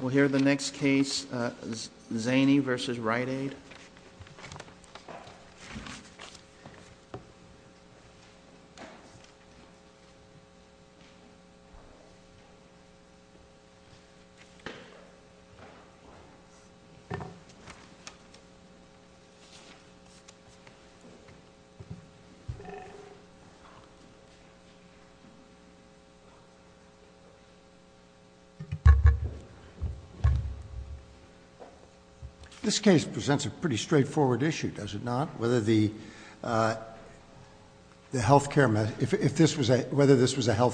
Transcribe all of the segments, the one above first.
We'll hear the next case, Zani v. Rite Aid. This case presents a pretty straightforward issue, does it not? Whether this was a health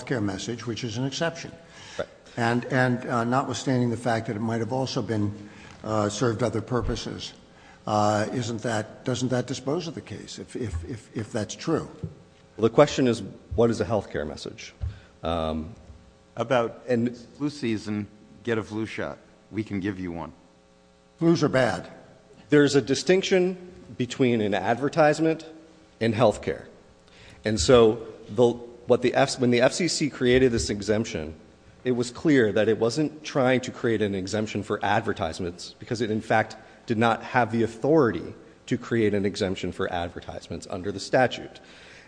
care message, which is an exception, and notwithstanding the fact that it might have also served other purposes, doesn't that dispose of the case, if that's true? The question is, what is a health care message? About flu season, get a flu shot. We can give you one. Flus are bad. There's a distinction between an advertisement and health care. And so when the FCC created this exemption, it was clear that it wasn't trying to create an exemption for advertisements, because it, in fact, did not have the authority to create an exemption for advertisements under the statute.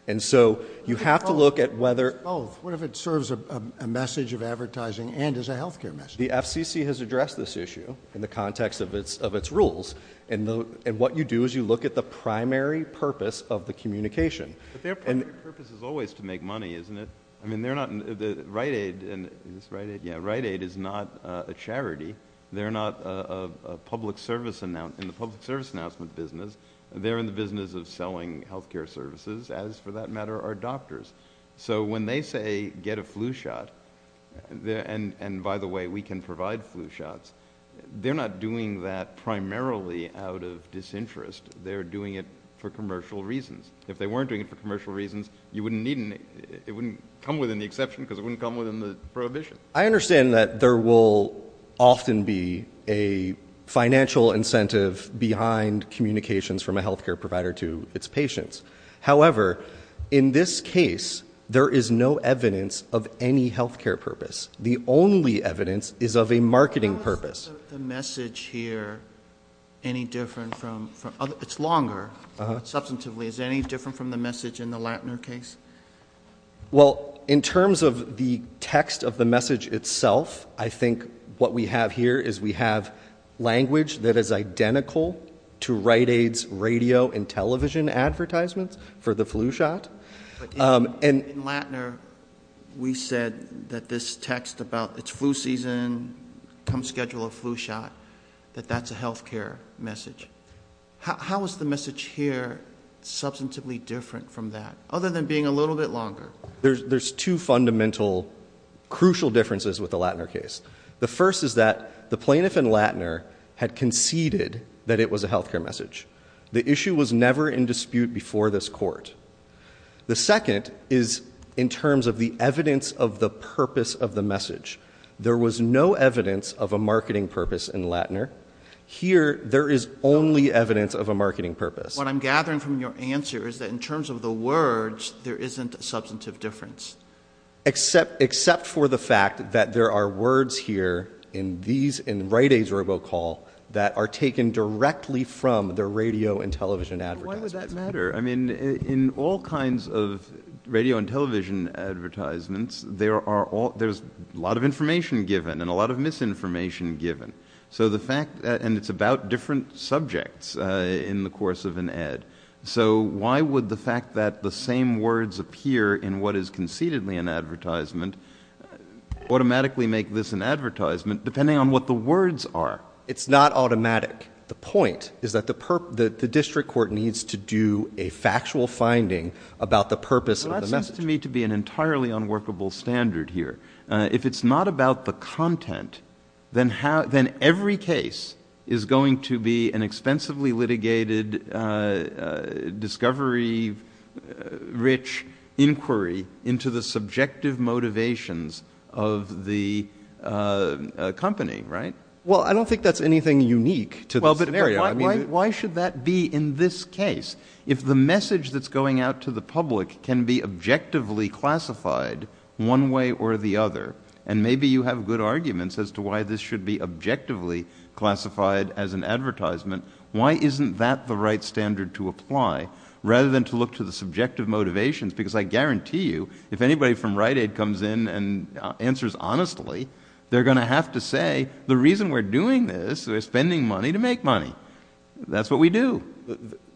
And so you have to look at whether... What if it serves a message of advertising and is a health care message? The FCC has addressed this issue in the context of its rules, and what you do is you look at the primary purpose of the communication. But their primary purpose is always to make money, isn't it? I mean, Rite Aid is not a charity. They're not in the public service announcement business. They're in the business of selling health care services, as, for that matter, are doctors. So when they say, get a flu shot, and by the way, we can provide flu shots, they're not doing that primarily out of disinterest. They're doing it for commercial reasons. If they weren't doing it for commercial reasons, it wouldn't come within the exception because it wouldn't come within the prohibition. I understand that there will often be a financial incentive behind communications from a health care provider to its patients. However, in this case, there is no evidence of any health care purpose. The only evidence is of a marketing purpose. How is the message here any different from... It's longer, substantively. Is it any different from the message in the Lantner case? Well, in terms of the text of the message itself, I think what we have here is we have language that is identical to Rite Aid's radio and television advertisements for the flu shot. In Lantner, we said that this text about it's flu season, come schedule a flu shot, that that's a health care message. How is the message here substantively different from that? Other than being a little bit longer. There's two fundamental, crucial differences with the Lantner case. The first is that the plaintiff in Lantner had conceded that it was a health care message. The issue was never in dispute before this court. The second is in terms of the evidence of the purpose of the message. There was no evidence of a marketing purpose in Lantner. Here, there is only evidence of a marketing purpose. What I'm gathering from your answer is that in terms of the words, there isn't a substantive difference. Except for the fact that there are words here in Rite Aid's robocall that are taken directly from the radio and television advertisements. Why would that matter? I mean, in all kinds of radio and television advertisements, there's a lot of information given and a lot of misinformation given. It's about different subjects in the course of an ad. Why would the fact that the same words appear in what is concededly an advertisement automatically make this an advertisement depending on what the words are? It's not automatic. The point is that the district court needs to do a factual finding about the purpose of the message. That seems to me to be an entirely unworkable standard here. If it's not about the content, then every case is going to be an expensively litigated, discovery-rich inquiry into the subjective motivations of the company, right? Well, I don't think that's anything unique to the scenario. Why should that be in this case? If the message that's going out to the public can be objectively classified one way or the other, and maybe you have good arguments as to why this should be objectively classified as an advertisement, why isn't that the right standard to apply rather than to look to the subjective motivations? Because I guarantee you, if anybody from Rite Aid comes in and answers honestly, they're going to have to say, the reason we're doing this is we're spending money to make money. That's what we do.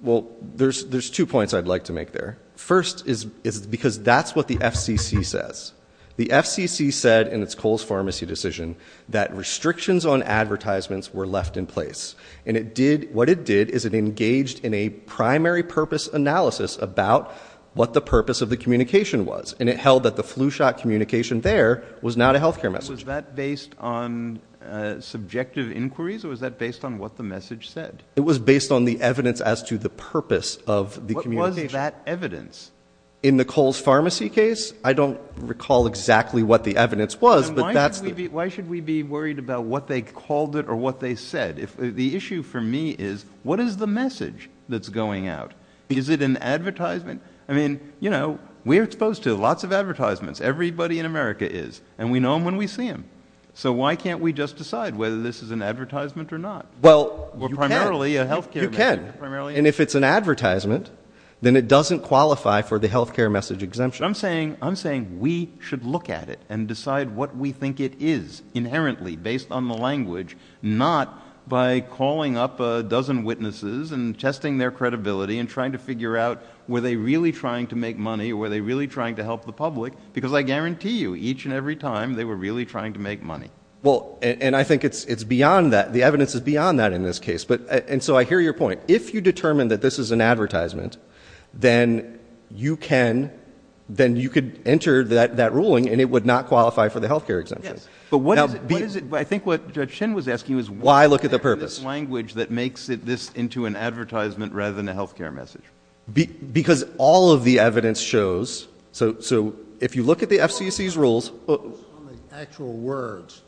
Well, there's two points I'd like to make there. First is because that's what the FCC says. The FCC said in its Coles Pharmacy decision that restrictions on advertisements were left in place, and what it did is it engaged in a primary purpose analysis about what the purpose of the communication was, and it held that the flu shot communication there was not a health care message. Was that based on subjective inquiries, or was that based on what the message said? It was based on the evidence as to the purpose of the communication. What was that evidence? In the Coles Pharmacy case? I don't recall exactly what the evidence was. Why should we be worried about what they called it or what they said? The issue for me is what is the message that's going out? Is it an advertisement? I mean, you know, we're exposed to lots of advertisements. Everybody in America is, and we know them when we see them. So why can't we just decide whether this is an advertisement or not? Well, you can. Or primarily a health care message. You can. And if it's an advertisement, then it doesn't qualify for the health care message exemption. I'm saying we should look at it and decide what we think it is inherently, based on the language, not by calling up a dozen witnesses and testing their credibility and trying to figure out were they really trying to make money or were they really trying to help the public, because I guarantee you each and every time they were really trying to make money. And I think it's beyond that. The evidence is beyond that in this case. And so I hear your point. If you determine that this is an advertisement, then you could enter that ruling and it would not qualify for the health care exemption. Yes. But what is it? I think what Judge Shin was asking was why look at the purpose. Why look at the language that makes this into an advertisement rather than a health care message? Because all of the evidence shows. So if you look at the FCC's rules. It's on the actual words,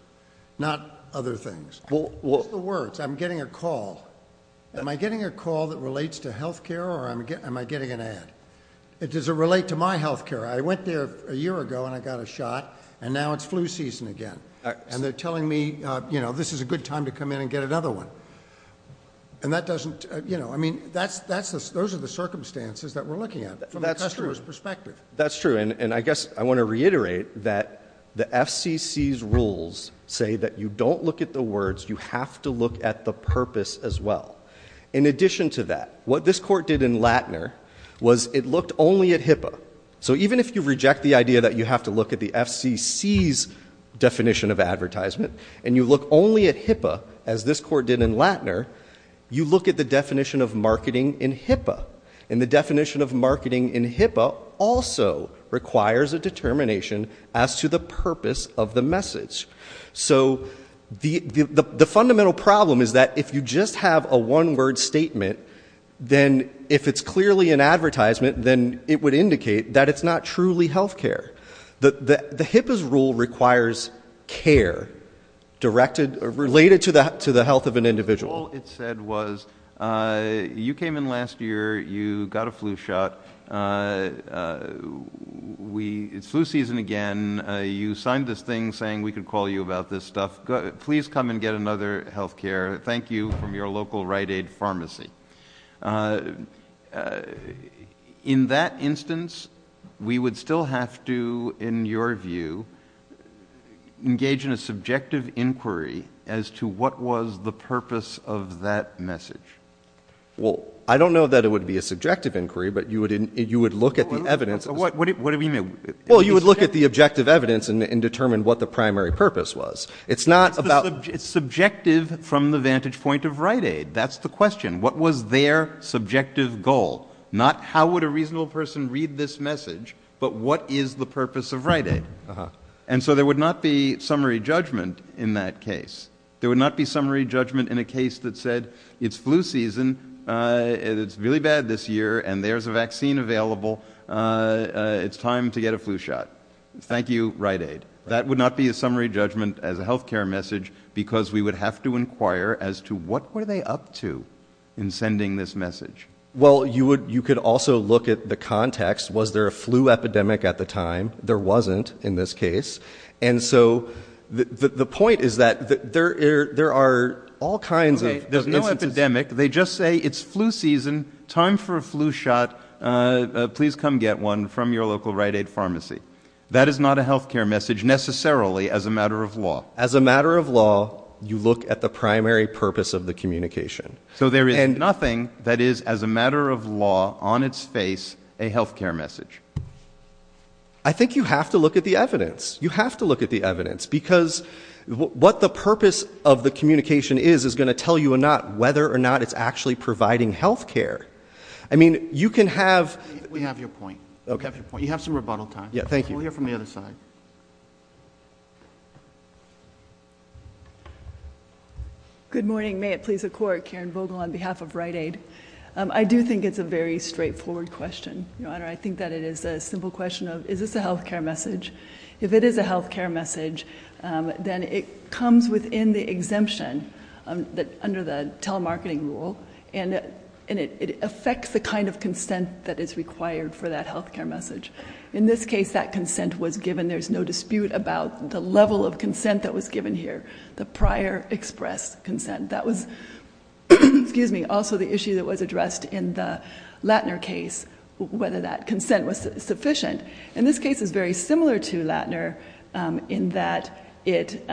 not other things. It's the words. I'm getting a call. Am I getting a call that relates to health care or am I getting an ad? Does it relate to my health care? I went there a year ago and I got a shot and now it's flu season again. And they're telling me, you know, this is a good time to come in and get another one. And that doesn't, you know, I mean, those are the circumstances that we're looking at from a customer's perspective. That's true. And I guess I want to reiterate that the FCC's rules say that you don't look at the words. You have to look at the purpose as well. In addition to that, what this court did in Latner was it looked only at HIPAA. So even if you reject the idea that you have to look at the FCC's definition of advertisement and you look only at HIPAA as this court did in Latner, you look at the definition of marketing in HIPAA. And the definition of marketing in HIPAA also requires a determination as to the purpose of the message. So the fundamental problem is that if you just have a one-word statement, then if it's clearly an advertisement, then it would indicate that it's not truly health care. The HIPAA's rule requires care related to the health of an individual. All it said was you came in last year, you got a flu shot, it's flu season again, you signed this thing saying we could call you about this stuff. Please come and get another health care. Thank you from your local Rite Aid pharmacy. In that instance, we would still have to, in your view, engage in a subjective inquiry as to what was the purpose of that message. Well, I don't know that it would be a subjective inquiry, but you would look at the evidence. What do you mean? Well, you would look at the objective evidence and determine what the primary purpose was. It's subjective from the vantage point of Rite Aid. That's the question. What was their subjective goal? Not how would a reasonable person read this message, but what is the purpose of Rite Aid? And so there would not be summary judgment in that case. There would not be summary judgment in a case that said it's flu season, it's really bad this year, and there's a vaccine available. It's time to get a flu shot. Thank you, Rite Aid. That would not be a summary judgment as a health care message because we would have to inquire as to what were they up to in sending this message. Well, you could also look at the context. Was there a flu epidemic at the time? There wasn't in this case. And so the point is that there are all kinds of instances. There's no epidemic. They just say it's flu season, time for a flu shot. Please come get one from your local Rite Aid pharmacy. That is not a health care message necessarily as a matter of law. As a matter of law, you look at the primary purpose of the communication. So there is nothing that is as a matter of law on its face a health care message. I think you have to look at the evidence. You have to look at the evidence because what the purpose of the communication is is going to tell you or not whether or not it's actually providing health care. I mean, you can have... We have your point. We have your point. You have some rebuttal time. Thank you. We'll hear from the other side. Good morning. May it please the Court. Karen Vogel on behalf of Rite Aid. I do think it's a very straightforward question, Your Honor. I think that it is a simple question of is this a health care message? If it is a health care message, then it comes within the exemption under the telemarketing rule and it affects the kind of consent that is required for that health care message. In this case, that consent was given. There's no dispute about the level of consent that was given here, the prior expressed consent. That was also the issue that was addressed in the Lattner case, whether that consent was sufficient. And this case is very similar to Lattner in that it...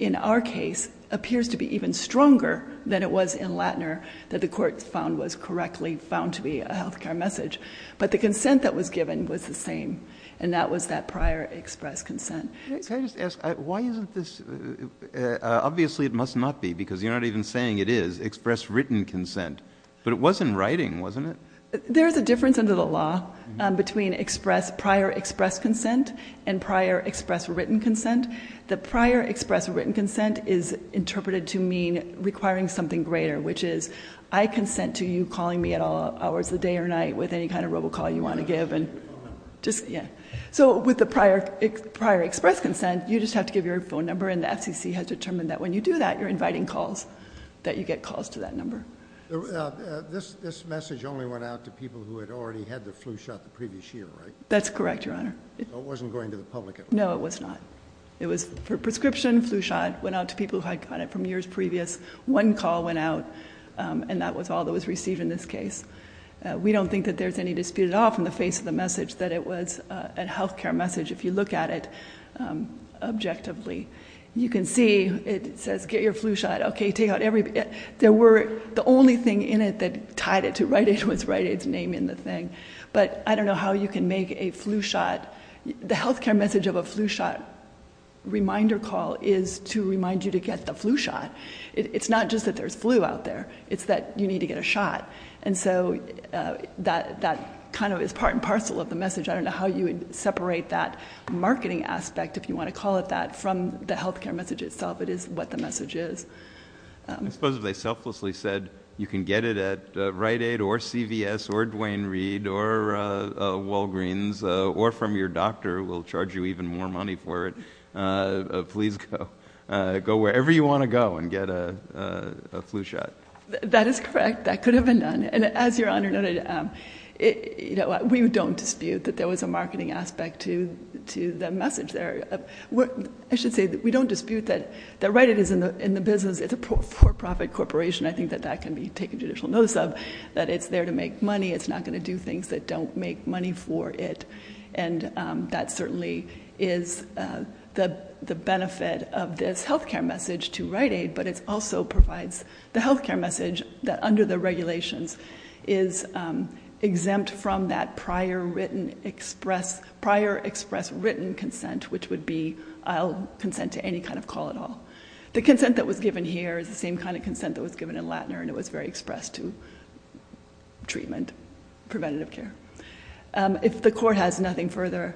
in our case, appears to be even stronger than it was in Lattner, that the Court found was correctly found to be a health care message. But the consent that was given was the same, and that was that prior expressed consent. Can I just ask, why isn't this... Obviously, it must not be because you're not even saying it is expressed written consent. But it was in writing, wasn't it? There is a difference under the law between prior expressed consent and prior expressed written consent. The prior expressed written consent is interpreted to mean requiring something greater, which is I consent to you calling me at all hours of the day or night with any kind of robocall you want to give. So with the prior expressed consent, you just have to give your phone number, and the FCC has determined that when you do that, you're inviting calls, that you get calls to that number. This message only went out to people who had already had their flu shot the previous year, right? That's correct, Your Honor. So it wasn't going to the public at all? No, it was not. It was for prescription flu shot. It went out to people who had gotten it from years previous. One call went out, and that was all that was received in this case. We don't think that there's any dispute at all from the face of the message that it was a health care message, if you look at it objectively. You can see it says, get your flu shot, okay, take out every... There were... the only thing in it that tied it to write it was write its name in the thing. But I don't know how you can make a flu shot. The health care message of a flu shot reminder call is to remind you to get the flu shot. It's not just that there's flu out there. It's that you need to get a shot. And so that kind of is part and parcel of the message. I don't know how you would separate that marketing aspect, if you want to call it that, from the health care message itself. It is what the message is. I suppose if they selflessly said you can get it at Rite Aid or CVS or Duane Reade or Walgreens or from your doctor who will charge you even more money for it, please go wherever you want to go and get a flu shot. That is correct. That could have been done. And as Your Honor noted, we don't dispute that there was a marketing aspect to the message there. I should say that we don't dispute that Rite Aid is in the business. It's a for-profit corporation. I think that that can be taken judicial notice of, that it's there to make money. It's not going to do things that don't make money for it. And that certainly is the benefit of this health care message to Rite Aid, but it also provides the health care message that, under the regulations, is exempt from that prior express written consent, which would be, I'll consent to any kind of call at all. The consent that was given here is the same kind of consent that was given in Latner, and it was very expressed to treatment, preventative care. If the Court has nothing further,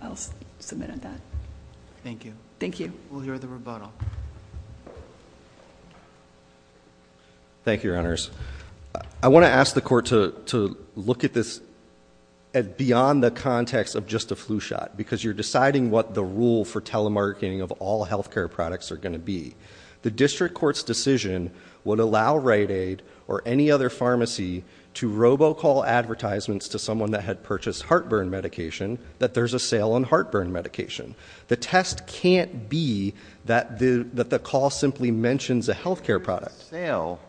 I'll submit at that. Thank you. Thank you. We'll hear the rebuttal. Thank you, Your Honors. I want to ask the Court to look at this beyond the context of just a flu shot, because you're deciding what the rule for telemarketing of all health care products are going to be. The district court's decision would allow Rite Aid or any other pharmacy to robocall advertisements to someone that had purchased heartburn medication, that there's a sale on heartburn medication. The test can't be that the call simply mentions a health care product. There's a sale,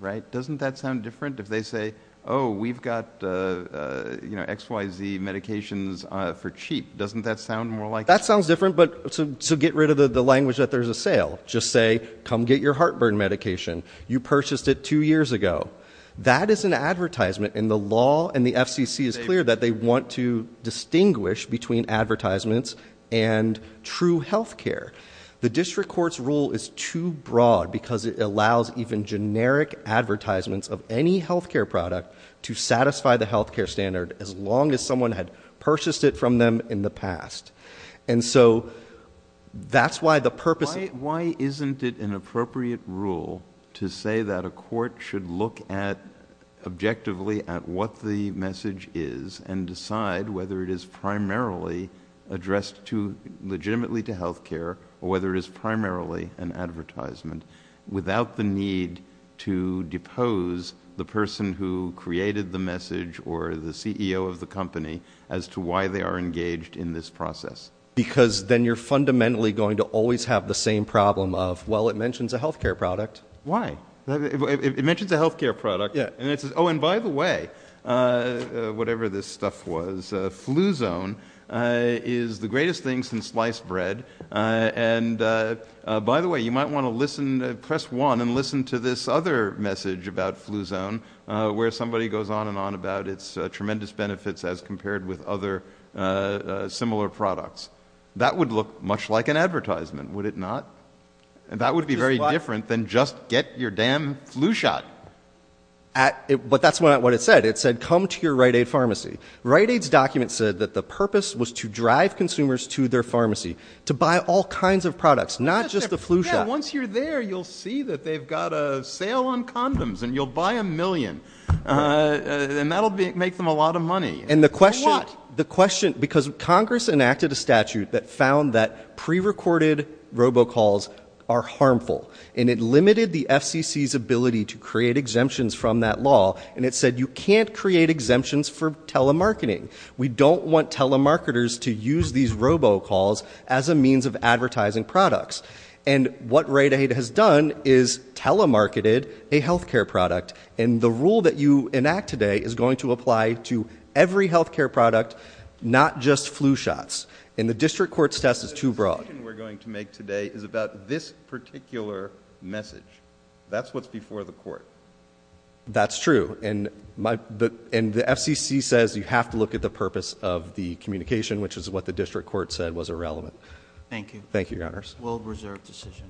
right? Doesn't that sound different if they say, oh, we've got XYZ medications for cheap. Doesn't that sound more like... That sounds different, so get rid of the language that there's a sale. Just say, come get your heartburn medication. You purchased it two years ago. That is an advertisement, and the law and the FCC is clear that they want to distinguish between advertisements and true health care. The district court's rule is too broad because it allows even generic advertisements of any health care product to satisfy the health care standard as long as someone had purchased it from them in the past. That's why the purpose... Why isn't it an appropriate rule to say that a court should look at, objectively, at what the message is and decide whether it is primarily addressed legitimately to health care or whether it is primarily an advertisement without the need to depose the person who created the message or the CEO of the company as to why they are engaged in this process? Because then you're fundamentally going to always have the same problem of, well, it mentions a health care product. Why? It mentions a health care product. Oh, and by the way, whatever this stuff was, Fluzone is the greatest thing since sliced bread. By the way, you might want to press 1 and listen to this other message about Fluzone where somebody goes on and on about its tremendous benefits as compared with other similar products. That would look much like an advertisement, would it not? That would be very different than just get your damn flu shot. But that's not what it said. It said come to your Rite Aid pharmacy. Rite Aid's document said that the purpose was to drive consumers to their pharmacy, to buy all kinds of products, not just the flu shot. Yeah, once you're there, you'll see that they've got a sale on condoms and you'll buy a million, and that will make them a lot of money. And the question, because Congress enacted a statute that found that prerecorded robocalls are harmful, and it limited the FCC's ability to create exemptions from that law, and it said you can't create exemptions for telemarketing. We don't want telemarketers to use these robocalls as a means of advertising products. And what Rite Aid has done is telemarketed a health care product, and the rule that you enact today is going to apply to every health care product, not just flu shots, and the district court's test is too broad. The decision we're going to make today is about this particular message. That's what's before the court. That's true, and the FCC says you have to look at the purpose of the communication, which is what the district court said was irrelevant. Thank you. Thank you, Your Honors. World Reserve decision.